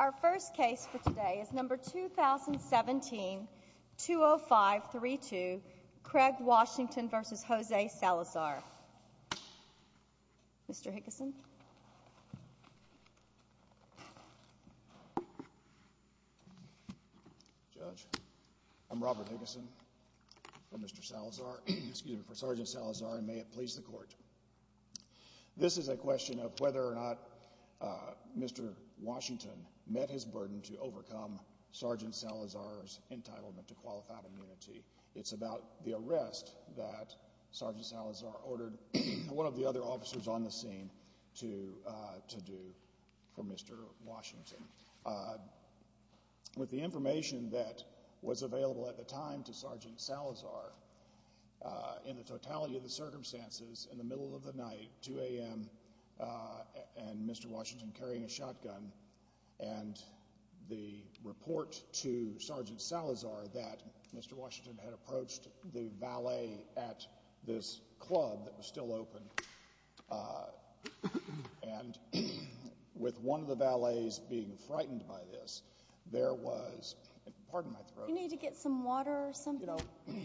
Our first case for today is number 2017-20532, Craig Washington v. Jose Salazar. Mr. Higgison. Judge, I'm Robert Higgison, for Sergeant Salazar, and may it please the Court. This is a question of whether or not Mr. Washington met his burden to overcome Sergeant Salazar's entitlement to qualified immunity. It's about the arrest that Sergeant Salazar ordered one of the other officers on the scene to do for Mr. Washington. With the information that was available at the time to Sergeant Salazar, in the totality of the circumstances, in the middle of the night, 2 a.m., and Mr. Washington carrying a shotgun, and the report to Sergeant Salazar that Mr. Washington had approached the valet at this club that was still open, and with one of the valets being frightened by this, there was... Pardon my throat. You need to get some water or something? Thank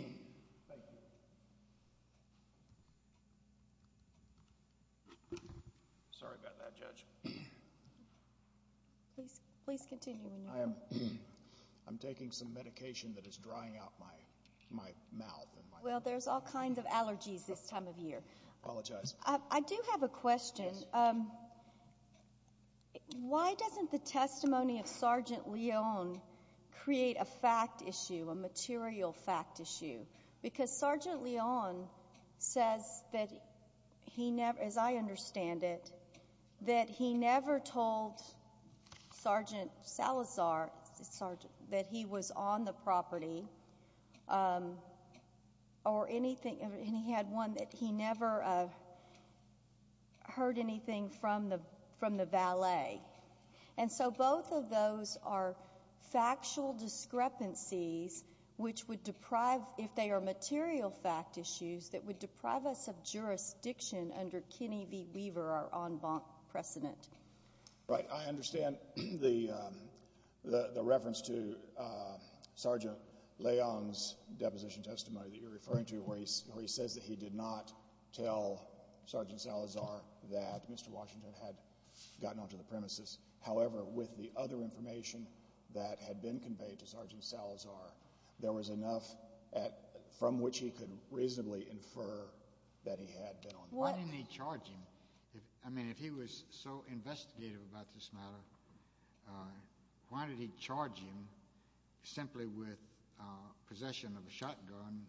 you. Sorry about that, Judge. Please continue. I'm taking some medication that is drying out my mouth. Well, there's all kinds of allergies this time of year. Apologize. I do have a question. Why doesn't the testimony of Sergeant Leon create a fact issue, a material fact issue? Because Sergeant Leon says that he never, as I understand it, that he never told Sergeant Salazar that he was on the property or anything, and he had one that he never heard anything from the valet. And so both of those are factual discrepancies which would deprive, if they are material fact issues, that would deprive us of jurisdiction under Kenny V. Weaver, our en banc precedent. Right. I understand the reference to Sergeant Leon's deposition testimony that you're referring to where he says that he did not tell Sergeant Salazar that Mr. Washington had gotten onto the premises. However, with the other information that had been conveyed to Sergeant Salazar, there was enough from which he could reasonably infer that he had been on the property. Why didn't he charge him? I mean, if he was so investigative about this matter, why did he charge him simply with possession of a shotgun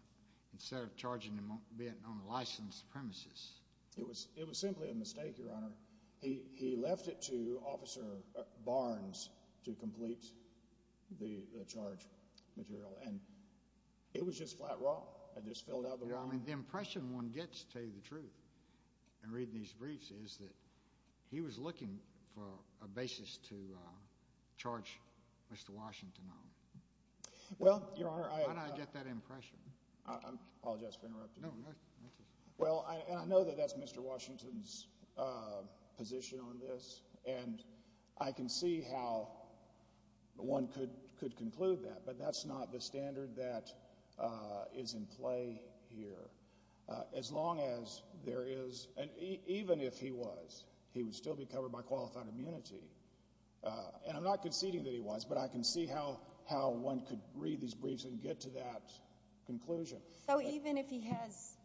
instead of charging him being on licensed premises? It was simply a mistake, Your Honor. He left it to Officer Barnes to complete the charge material, and it was just flat wrong. I just filled out the wrong. I mean, the impression one gets, to tell you the truth, in reading these briefs, is that he was looking for a basis to charge Mr. Washington on. Well, Your Honor, I... How did I get that impression? I apologize for interrupting you. No, no, thank you. Well, and I know that that's Mr. Washington's position on this, and I can see how one could conclude that, but that's not the standard that is in play here. As long as there is... and even if he was, he would still be covered by qualified immunity. And I'm not conceding that he was, but I can see how one could read these briefs and get to that conclusion. So even if he has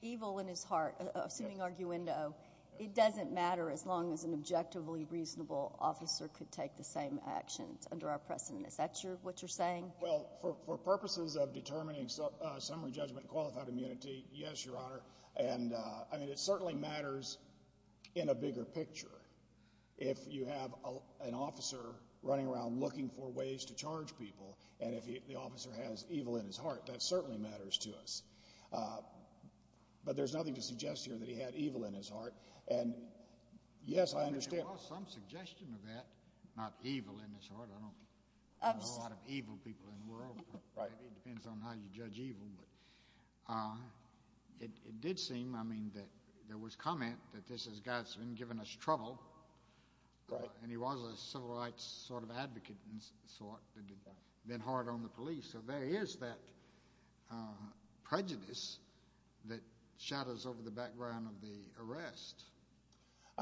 evil in his heart, assuming arguendo, it doesn't matter as long as an Well, for purposes of determining summary judgment and qualified immunity, yes, Your Honor. And, I mean, it certainly matters in a bigger picture. If you have an officer running around looking for ways to charge people, and if the officer has evil in his heart, that certainly matters to us. But there's nothing to suggest here that he had evil in his heart. And, yes, I understand... Right. I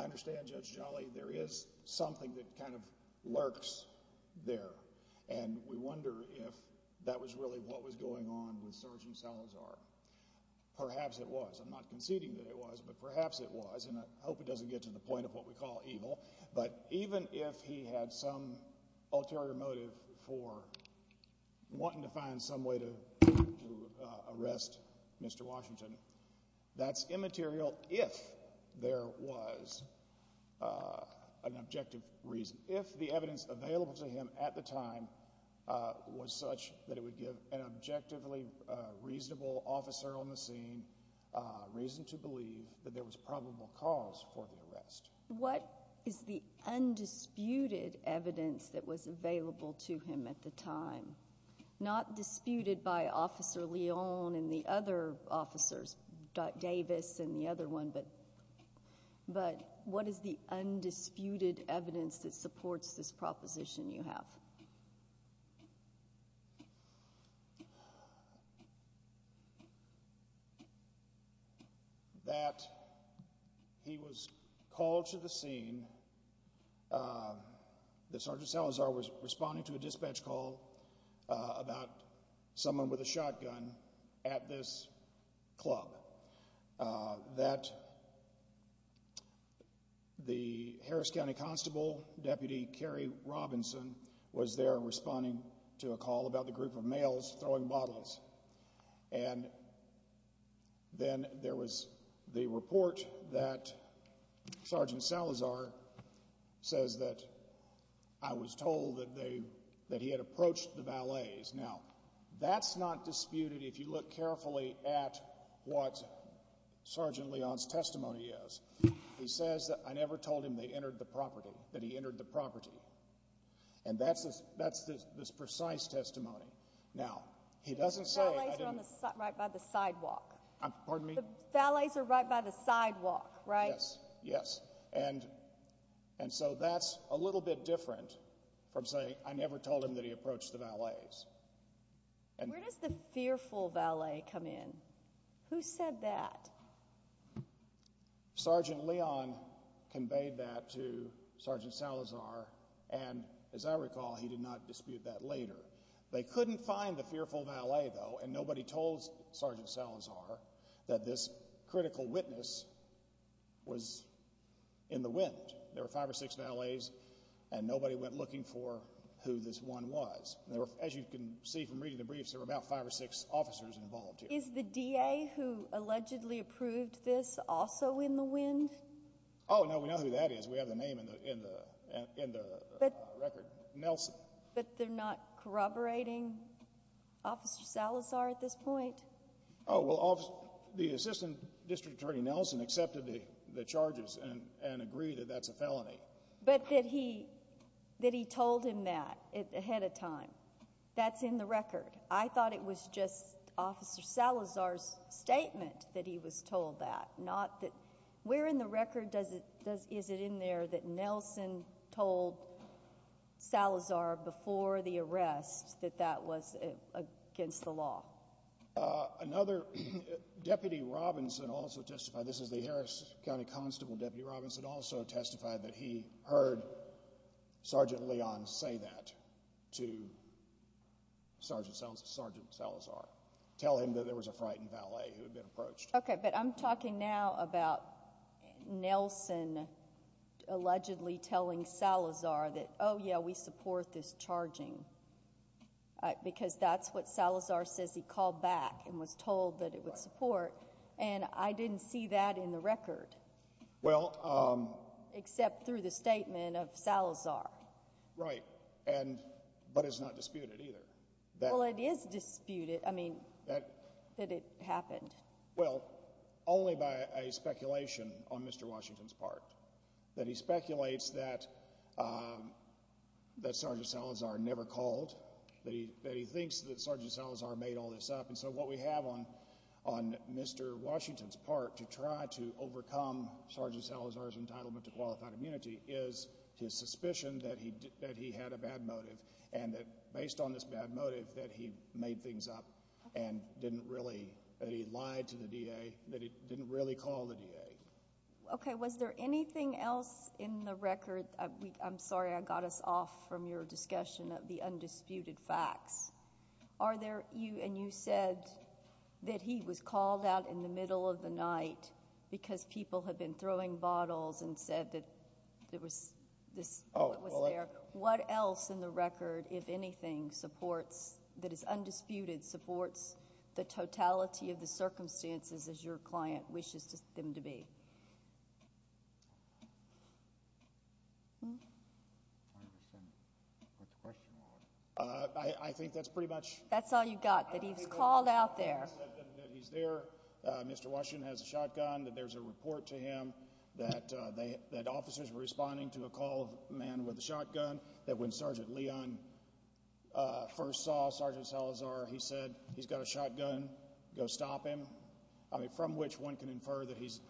understand, Judge Giannulli. There is something that kind of lurks there. And we wonder if that was really what was going on with Sergeant Salazar. Perhaps it was. I'm not conceding that it was, but perhaps it was. And I hope it doesn't get to the point of what we call evil. But even if he had some ulterior motive for wanting to find some way to arrest Mr. Washington, that's immaterial if there was an objective reason. If the evidence available to him at the time was such that it would give an objectively reasonable officer on the scene reason to believe that there was probable cause for the arrest. What is the undisputed evidence that was available to him at the time? Not disputed by Officer Leon and the other officers, Davis and the other one, But what is the undisputed evidence that supports this proposition you have? That he was called to the scene. That Sergeant Salazar was responding to a dispatch call about someone with a shotgun at this club. That the Harris County Constable, Deputy Kerry Robinson, was there responding to a call about the group of males throwing bottles. And then there was the report that Sergeant Salazar says that I was told that he had approached the valets. Now, that's not disputed if you look carefully at what Sergeant Leon's testimony is. He says that I never told him that he entered the property. And that's this precise testimony. Now, he doesn't say... The valets are right by the sidewalk. Pardon me? The valets are right by the sidewalk, right? Yes, yes. And so that's a little bit different from saying I never told him that he approached the valets. Where does the fearful valet come in? Who said that? Sergeant Leon conveyed that to Sergeant Salazar, and as I recall, he did not dispute that later. They couldn't find the fearful valet, though, and nobody told Sergeant Salazar that this critical witness was in the wind. There were five or six valets, and nobody went looking for who this one was. As you can see from reading the briefs, there were about five or six officers involved here. Is the DA who allegedly approved this also in the wind? Oh, no, we know who that is. We have the name in the record. Nelson. But they're not corroborating Officer Salazar at this point? Oh, well, the Assistant District Attorney Nelson accepted the charges and agreed that that's a felony. But that he told him that ahead of time, that's in the record. I thought it was just Officer Salazar's statement that he was told that, not that... Where in the record is it in there that Nelson told Salazar before the arrest that that was against the law? Another Deputy Robinson also testified. This is the Harris County Constable, Deputy Robinson, also testified that he heard Sergeant Leon say that to Sergeant Salazar, tell him that there was a frightened valet who had been approached. Okay, but I'm talking now about Nelson allegedly telling Salazar that, oh, yeah, we support this charging, because that's what Salazar says he called back and was told that it would support. And I didn't see that in the record, except through the statement of Salazar. Right, but it's not disputed either. Well, it is disputed, I mean, that it happened. Well, only by a speculation on Mr. Washington's part, that he speculates that Sergeant Salazar never called, that he thinks that Sergeant Salazar made all this up. And so what we have on Mr. Washington's part to try to overcome Sergeant Salazar's entitlement to qualified immunity is his suspicion that he had a bad motive and that, based on this bad motive, that he made things up and didn't really, that he lied to the DA, that he didn't really call the DA. Okay, was there anything else in the record? I'm sorry I got us off from your discussion of the undisputed facts. Are there, and you said that he was called out in the middle of the night because people had been throwing bottles and said that there was this bullet was there. What else in the record, if anything, supports, that is undisputed, supports the totality of the circumstances as your client wishes them to be? I think that's pretty much. That's all you got, that he was called out there. He said that he's there. Mr. Washington has a shotgun, that there's a report to him, that officers were responding to a call of a man with a shotgun, that when Sergeant Leon first saw Sergeant Salazar, he said, he's got a shotgun, go stop him, from which one can infer that he's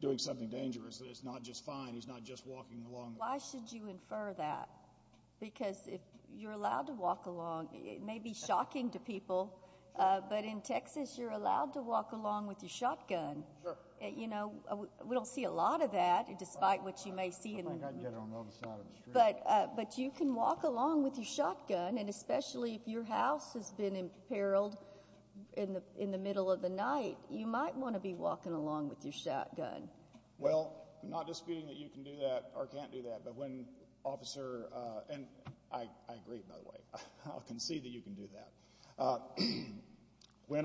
doing something dangerous, that it's not just fine, he's not just walking along. Why should you infer that? Because if you're allowed to walk along, it may be shocking to people, but in Texas you're allowed to walk along with your shotgun. We don't see a lot of that, despite what you may see. But you can walk along with your shotgun, and especially if your house has been imperiled in the middle of the night, you might want to be walking along with your shotgun. Well, I'm not disputing that you can do that or can't do that, but when Officer – and I agree, by the way. I'll concede that you can do that. When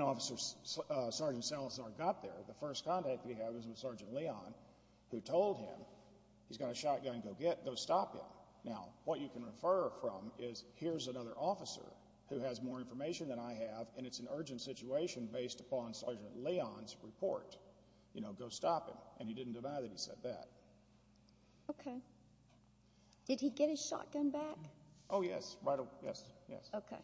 Sergeant Salazar got there, the first contact that he had was with Sergeant Leon, who told him, he's got a shotgun, go stop him. Now, what you can refer from is, here's another officer who has more information than I have, and it's an urgent situation based upon Sergeant Leon's report. You know, go stop him. And he didn't deny that he said that. Okay. Did he get his shotgun back? Oh, yes. Right away. Yes, yes. Okay.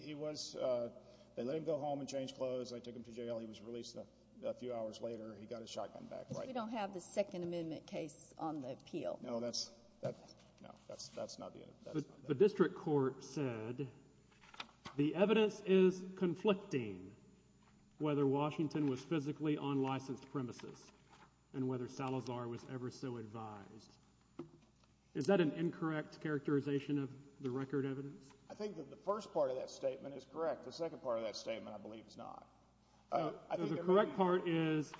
He was – they let him go home and change clothes. They took him to jail. He was released a few hours later. He got his shotgun back, right. Because we don't have the Second Amendment case on the appeal. No, that's – no, that's not the evidence. The district court said the evidence is conflicting whether Washington was physically on licensed premises and whether Salazar was ever so advised. Is that an incorrect characterization of the record evidence? I think that the first part of that statement is correct. The second part of that statement, I believe, is not. So the correct part is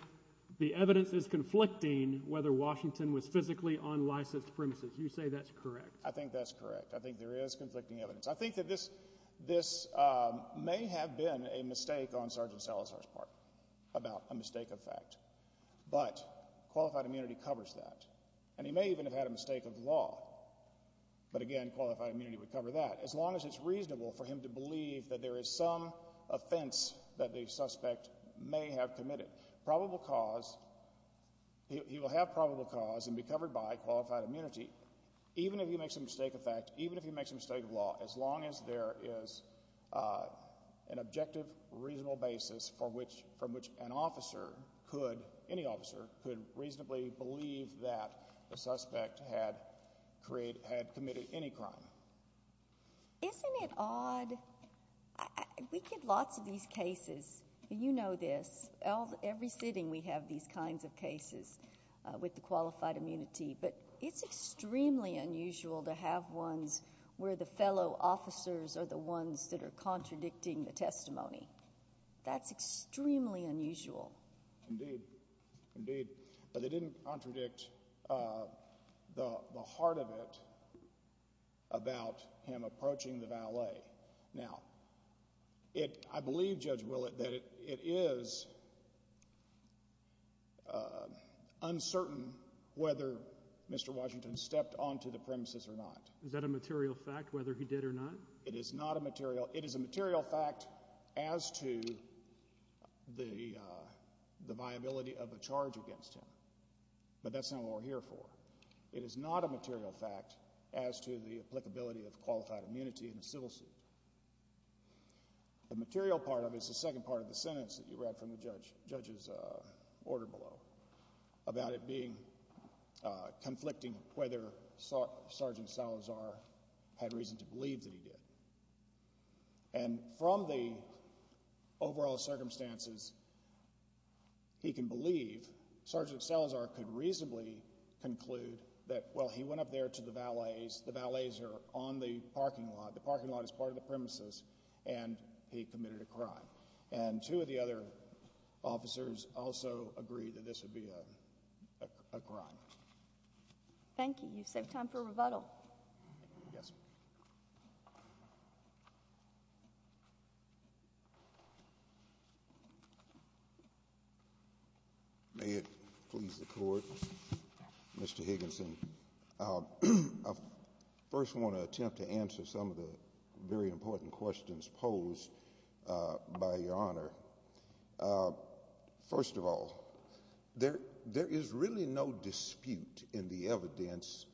the evidence is conflicting whether Washington was physically on licensed premises. You say that's correct. I think that's correct. I think there is conflicting evidence. I think that this may have been a mistake on Sergeant Salazar's part about a mistake of fact. But qualified immunity covers that. And he may even have had a mistake of law. But, again, qualified immunity would cover that as long as it's reasonable for him to believe that there is some offense that the suspect may have committed. Probable cause – he will have probable cause and be covered by qualified immunity even if he makes a mistake of fact, even if he makes a mistake of law, as long as there is an objective, reasonable basis from which an officer could – any officer could reasonably believe that the suspect had committed any crime. Isn't it odd? We get lots of these cases. You know this. Every sitting we have these kinds of cases with the qualified immunity. But it's extremely unusual to have ones where the fellow officers are the ones that are contradicting the testimony. That's extremely unusual. Indeed. Indeed. But they didn't contradict the heart of it about him approaching the valet. Now, I believe, Judge Willett, that it is uncertain whether Mr. Washington stepped onto the premises or not. Is that a material fact, whether he did or not? It is not a material – it is a material fact as to the viability of a charge against him. But that's not what we're here for. It is not a material fact as to the applicability of qualified immunity in a civil suit. The material part of it is the second part of the sentence that you read from the judge's order below about it being – conflicting whether Sergeant Salazar had reason to believe that he did. And from the overall circumstances, he can believe Sergeant Salazar could reasonably conclude that, well, he went up there to the valets. The valets are on the parking lot. The parking lot is part of the premises. And he committed a crime. And two of the other officers also agree that this would be a crime. Thank you. You've saved time for rebuttal. Yes, sir. May it please the Court. Mr. Higginson, I first want to attempt to answer some of the very important questions posed by Your Honor. First of all, there is really no dispute in the evidence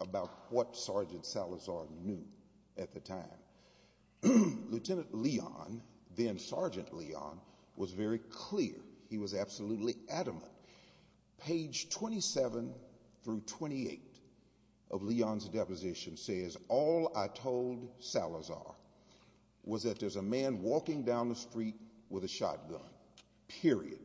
about what Sergeant Salazar knew at the time. Lieutenant Leon, then Sergeant Leon, was very clear. He was absolutely adamant. Page 27 through 28 of Leon's deposition says, All I told Salazar was that there's a man walking down the street with a shotgun, period.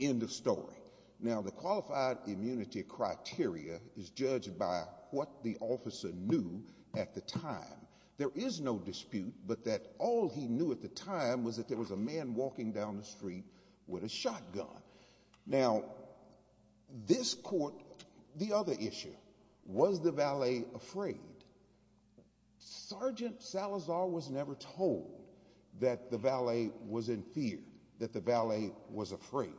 End of story. Now, the qualified immunity criteria is judged by what the officer knew at the time. There is no dispute but that all he knew at the time was that there was a man walking down the street with a shotgun. Now, this Court, the other issue, was the valet afraid? Sergeant Salazar was never told that the valet was in fear, that the valet was afraid.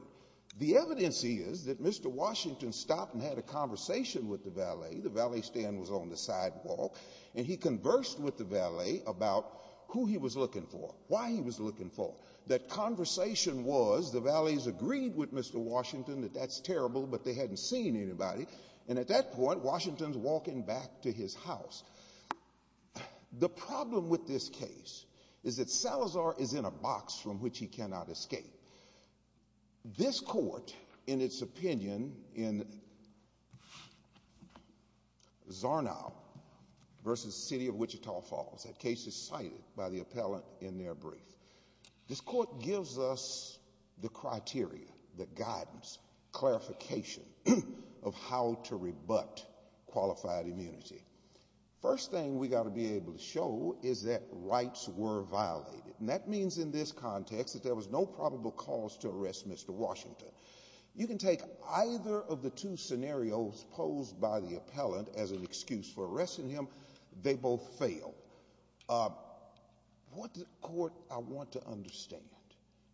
The evidence is that Mr. Washington stopped and had a conversation with the valet. The valet stand was on the sidewalk. And he conversed with the valet about who he was looking for, why he was looking for. That conversation was, the valet agreed with Mr. Washington that that's terrible but they hadn't seen anybody. And at that point, Washington's walking back to his house. The problem with this case is that Salazar is in a box from which he cannot escape. This Court, in its opinion, in Zarnow v. City of Wichita Falls, that case is cited by the appellant in their brief. This Court gives us the criteria, the guidance, clarification of how to rebut qualified immunity. First thing we've got to be able to show is that rights were violated. And that means in this context that there was no probable cause to arrest Mr. Washington. You can take either of the two scenarios posed by the appellant as an excuse for arresting him. They both fail. What the Court, I want to understand,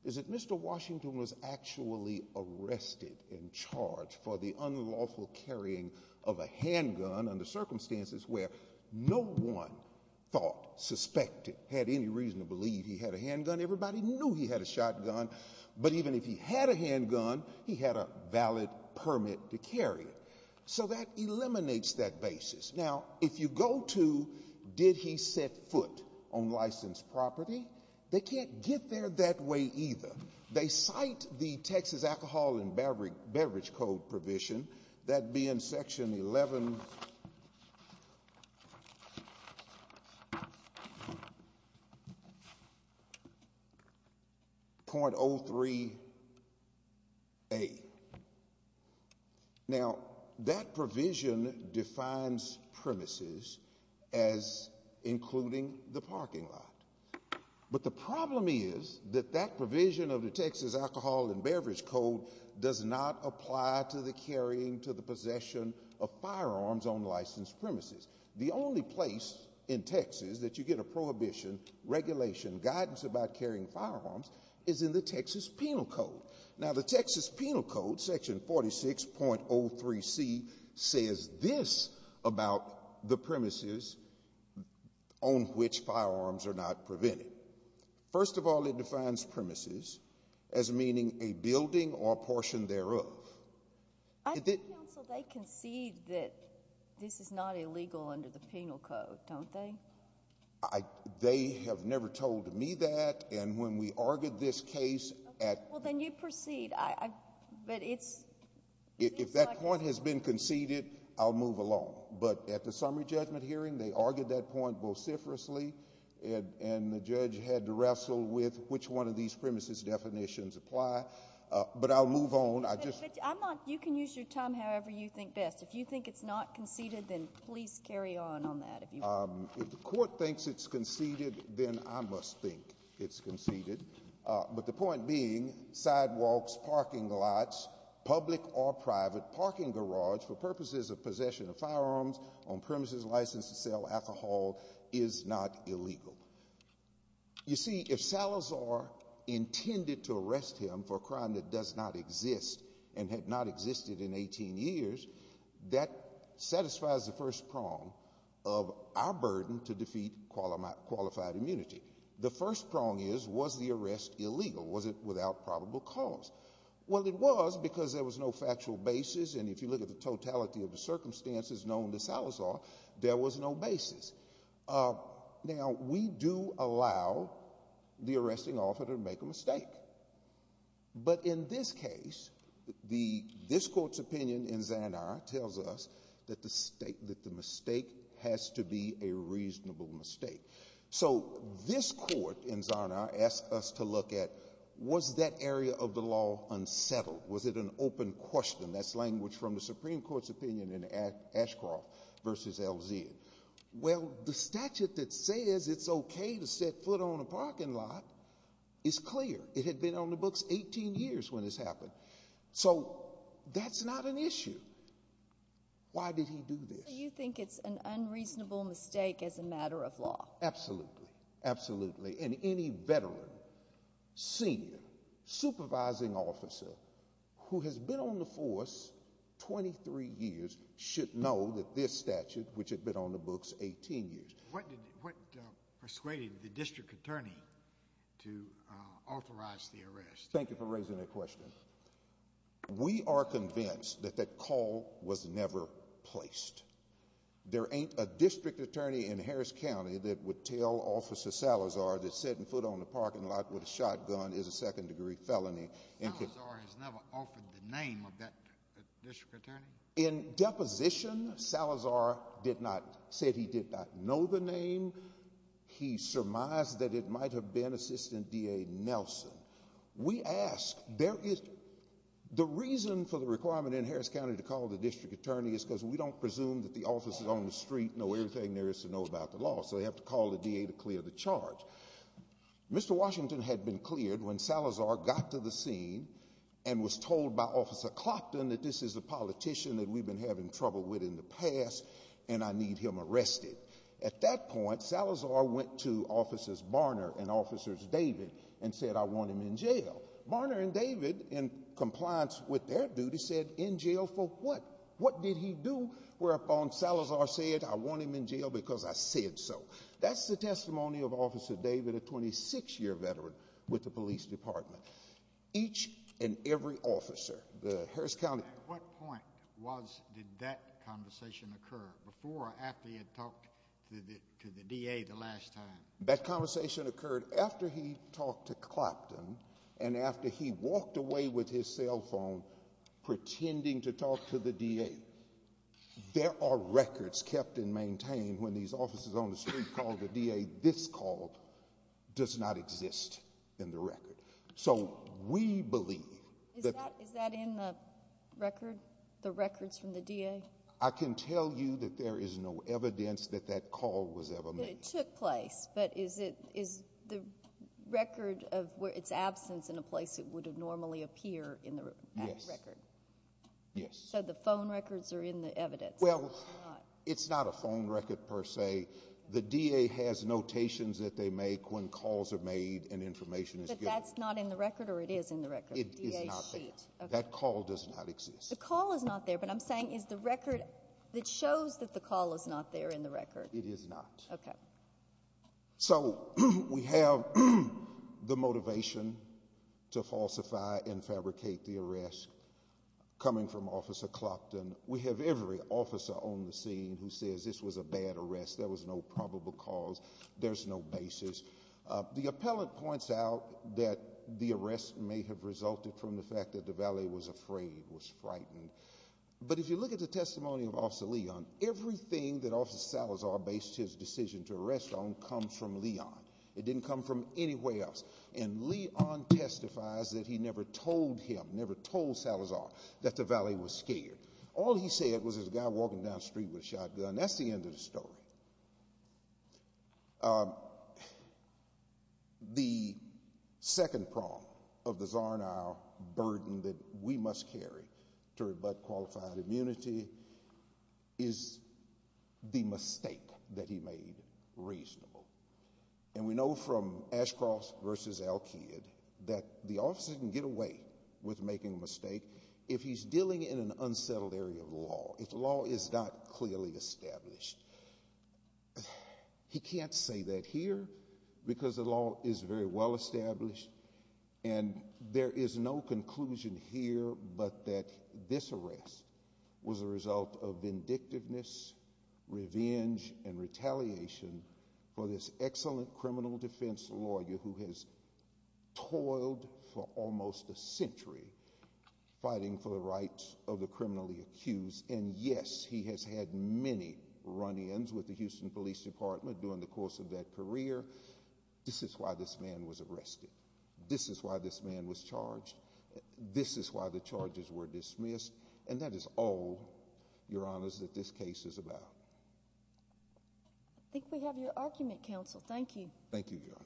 is that Mr. Washington was actually arrested and charged for the unlawful carrying of a handgun under circumstances where no one thought, suspected, had any reason to believe he had a handgun. Everybody knew he had a shotgun. But even if he had a handgun, he had a valid permit to carry it. So that eliminates that basis. Now, if you go to did he set foot on licensed property, they can't get there that way either. They cite the Texas Alcohol and Beverage Code provision, that being Section 11.03a. Now, that provision defines premises as including the parking lot. But the problem is that that provision of the Texas Alcohol and Beverage Code does not apply to the carrying to the possession of firearms on licensed premises. The only place in Texas that you get a prohibition regulation guidance about carrying firearms is in the Texas Penal Code. Now, the Texas Penal Code, Section 46.03c, says this about the premises on which firearms are not prevented. First of all, it defines premises as meaning a building or a portion thereof. I think, counsel, they concede that this is not illegal under the Penal Code, don't they? They have never told me that, and when we argued this case at When you proceed, but it's If that point has been conceded, I'll move along. But at the summary judgment hearing, they argued that point vociferously, and the judge had to wrestle with which one of these premises definitions apply. But I'll move on. You can use your time however you think best. If you think it's not conceded, then please carry on on that. If the court thinks it's conceded, then I must think it's conceded. But the point being, sidewalks, parking lots, public or private parking garage for purposes of possession of firearms on premises licensed to sell alcohol is not illegal. You see, if Salazar intended to arrest him for a crime that does not exist and had not existed in 18 years, that satisfies the first prong of our burden to defeat qualified immunity. The first prong is, was the arrest illegal? Was it without probable cause? Well, it was because there was no factual basis, and if you look at the totality of the circumstances known to Salazar, there was no basis. Now, we do allow the arresting author to make a mistake. But in this case, this court's opinion in Zanara tells us that the mistake has to be a reasonable mistake. So this court in Zanara asked us to look at, was that area of the law unsettled? Was it an open question? That's language from the Supreme Court's opinion in Ashcroft v. LZ. Well, the statute that says it's okay to set foot on a parking lot is clear. It had been on the books 18 years when this happened. So that's not an issue. Why did he do this? So you think it's an unreasonable mistake as a matter of law? Absolutely, absolutely. And any veteran, senior, supervising officer who has been on the force 23 years should know that this statute, which had been on the books 18 years. What persuaded the district attorney to authorize the arrest? Thank you for raising that question. We are convinced that that call was never placed. There ain't a district attorney in Harris County that would tell Officer Salazar that setting foot on a parking lot with a shotgun is a second-degree felony. Salazar has never offered the name of that district attorney? In deposition, Salazar said he did not know the name. He surmised that it might have been Assistant DA Nelson. We ask, the reason for the requirement in Harris County to call the district attorney is because we don't presume that the officers on the street know everything there is to know about the law, so they have to call the DA to clear the charge. Mr. Washington had been cleared when Salazar got to the scene and was told by Officer Clopton that this is a politician that we've been having trouble with in the past, and I need him arrested. At that point, Salazar went to Officers Barner and David and said, I want him in jail. Barner and David, in compliance with their duty, said, in jail for what? What did he do whereupon Salazar said, I want him in jail because I said so? That's the testimony of Officer David, a 26-year veteran with the police department. Each and every officer, the Harris County... At what point did that conversation occur, before or after he had talked to the DA the last time? That conversation occurred after he talked to Clopton and after he walked away with his cell phone pretending to talk to the DA. There are records kept and maintained when these officers on the street call the DA. This call does not exist in the record. So we believe... Is that in the record, the records from the DA? I can tell you that there is no evidence that that call was ever made. But it took place. But is the record of its absence in a place it would normally appear in the record? Yes. So the phone records are in the evidence. Well, it's not a phone record per se. The DA has notations that they make when calls are made and information is given. So that's not in the record or it is in the record? It is not there. That call does not exist. The call is not there, but I'm saying is the record that shows that the call is not there in the record? It is not. Okay. So we have the motivation to falsify and fabricate the arrest coming from Officer Clopton. We have every officer on the scene who says this was a bad arrest, there was no probable cause, there's no basis. The appellant points out that the arrest may have resulted from the fact that Duvalier was afraid, was frightened. But if you look at the testimony of Officer Leon, everything that Officer Salazar based his decision to arrest on comes from Leon. It didn't come from anywhere else. And Leon testifies that he never told him, never told Salazar that Duvalier was scared. All he said was there's a guy walking down the street with a shotgun. That's the end of the story. The second prong of the Czar and I burden that we must carry to rebut qualified immunity is the mistake that he made reasonable. And we know from Ashcross v. Al-Qaeda that the officer can get away with making a mistake if he's dealing in an unsettled area of the law, if the law is not clearly established. He can't say that here because the law is very well established. And there is no conclusion here but that this arrest was a result of vindictiveness, revenge, and retaliation for this excellent criminal defense lawyer who has toiled for almost a century fighting for the rights of the criminally accused. And yes, he has had many run-ins with the Houston Police Department during the course of that career. This is why this man was arrested. This is why this man was charged. This is why the charges were dismissed. And that is all, Your Honors, that this case is about. I think we have your argument, Counsel. Thank you. Thank you, Your Honor.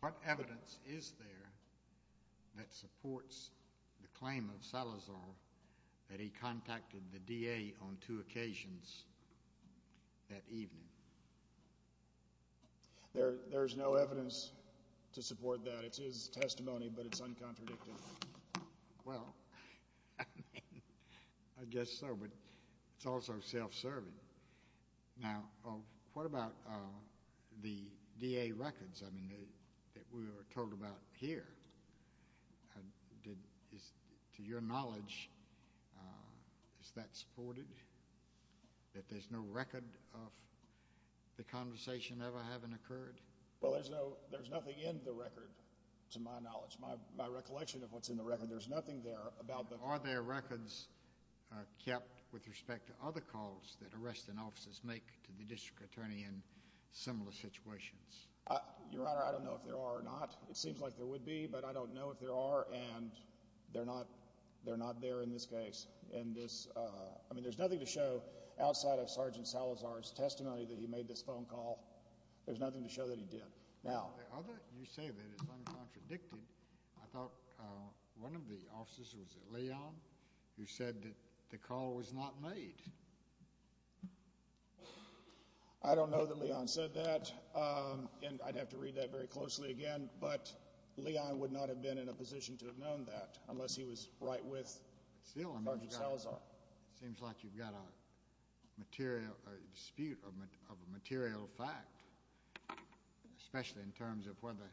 What evidence is there that supports the claim of Salazar that he contacted the DA on two occasions that evening? There is no evidence to support that. It's his testimony, but it's uncontradicted. Well, I guess so, but it's also self-serving. Now, what about the DA records that we were told about here? To your knowledge, is that supported, that there's no record of the conversation ever having occurred? Well, there's nothing in the record, to my knowledge. My recollection of what's in the record, there's nothing there about the— Are there records kept with respect to other calls that arresting officers make to the district attorney in similar situations? Your Honor, I don't know if there are or not. It seems like there would be, but I don't know if there are, and they're not there in this case. I mean, there's nothing to show outside of Sergeant Salazar's testimony that he made this phone call. There's nothing to show that he did. Now— You say that it's uncontradicted. I thought one of the officers was at Leon who said that the call was not made. I don't know that Leon said that, and I'd have to read that very closely again. But Leon would not have been in a position to have known that unless he was right with Sergeant Salazar. It seems like you've got a dispute of a material fact, especially in terms of whether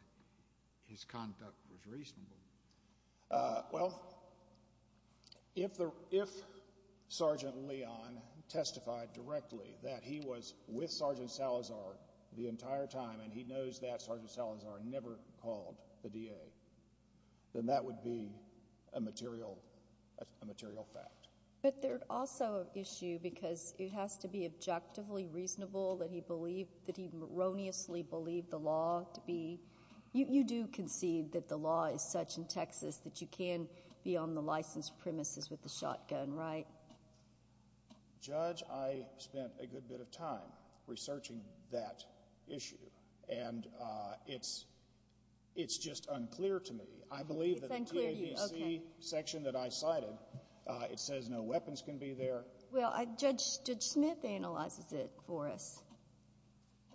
his conduct was reasonable. Well, if Sergeant Leon testified directly that he was with Sergeant Salazar the entire time and he knows that Sergeant Salazar never called the DA, then that would be a material fact. But there's also an issue because it has to be objectively reasonable that he believed—that he erroneously believed the law to be— that you can be on the licensed premises with a shotgun, right? Judge, I spent a good bit of time researching that issue, and it's just unclear to me. I believe that the DAVC section that I cited, it says no weapons can be there. Well, Judge Smith analyzes it for us.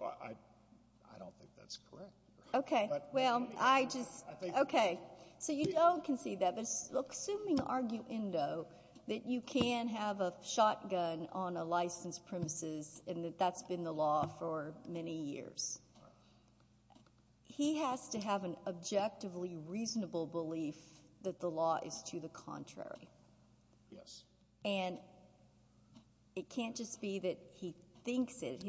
I don't think that's correct. Okay. Well, I just—okay. So you don't concede that. But look, assuming argue endo that you can have a shotgun on a licensed premises and that that's been the law for many years, he has to have an objectively reasonable belief that the law is to the contrary. Yes. And it can't just be that he thinks it.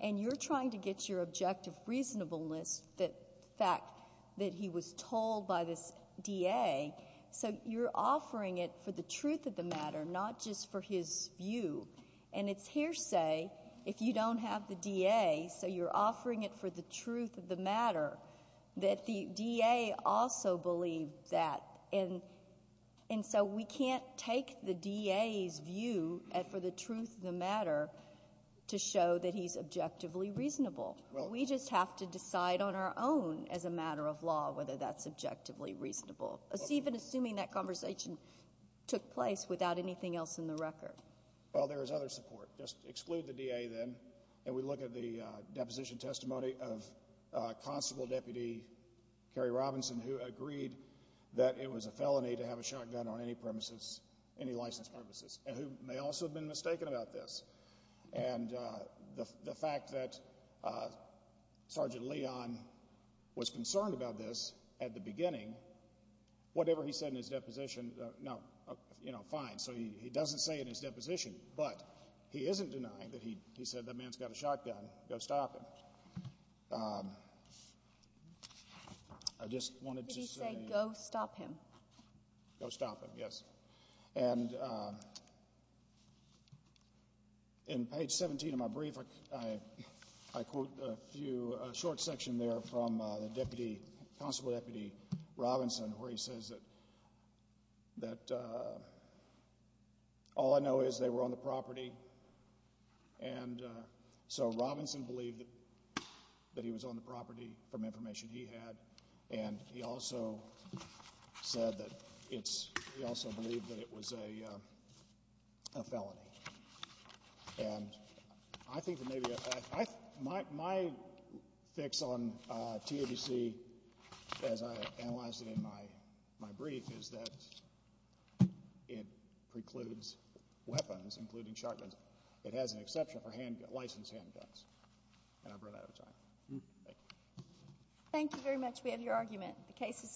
And you're trying to get your objective reasonableness, the fact that he was told by this DA, so you're offering it for the truth of the matter, not just for his view. And it's hearsay if you don't have the DA, so you're offering it for the truth of the matter, that the DA also believed that. And so we can't take the DA's view for the truth of the matter to show that he's objectively reasonable. We just have to decide on our own as a matter of law whether that's objectively reasonable, even assuming that conversation took place without anything else in the record. Well, there is other support. Just exclude the DA then, and we look at the deposition testimony of Constable Deputy Kerry Robinson, who agreed that it was a felony to have a shotgun on any premises, any licensed premises, and who may also have been mistaken about this. And the fact that Sergeant Leon was concerned about this at the beginning, whatever he said in his deposition, now, you know, fine, so he doesn't say in his deposition, but he isn't denying that he said that man's got a shotgun, go stop him. But I just wanted to say... Did he say go stop him? Go stop him, yes. And in page 17 of my brief, I quote a few, a short section there from the deputy, Constable Deputy Robinson, where he says that all I know is they were on the property, and so Robinson believed that he was on the property from information he had, and he also said that it's, he also believed that it was a felony. And I think that maybe, my fix on TABC, as I analyzed it in my brief, is that it precludes weapons, including shotguns. It has an exception for licensed handguns. And I've run out of time. Thank you. Thank you very much. We have your argument. The case is submitted.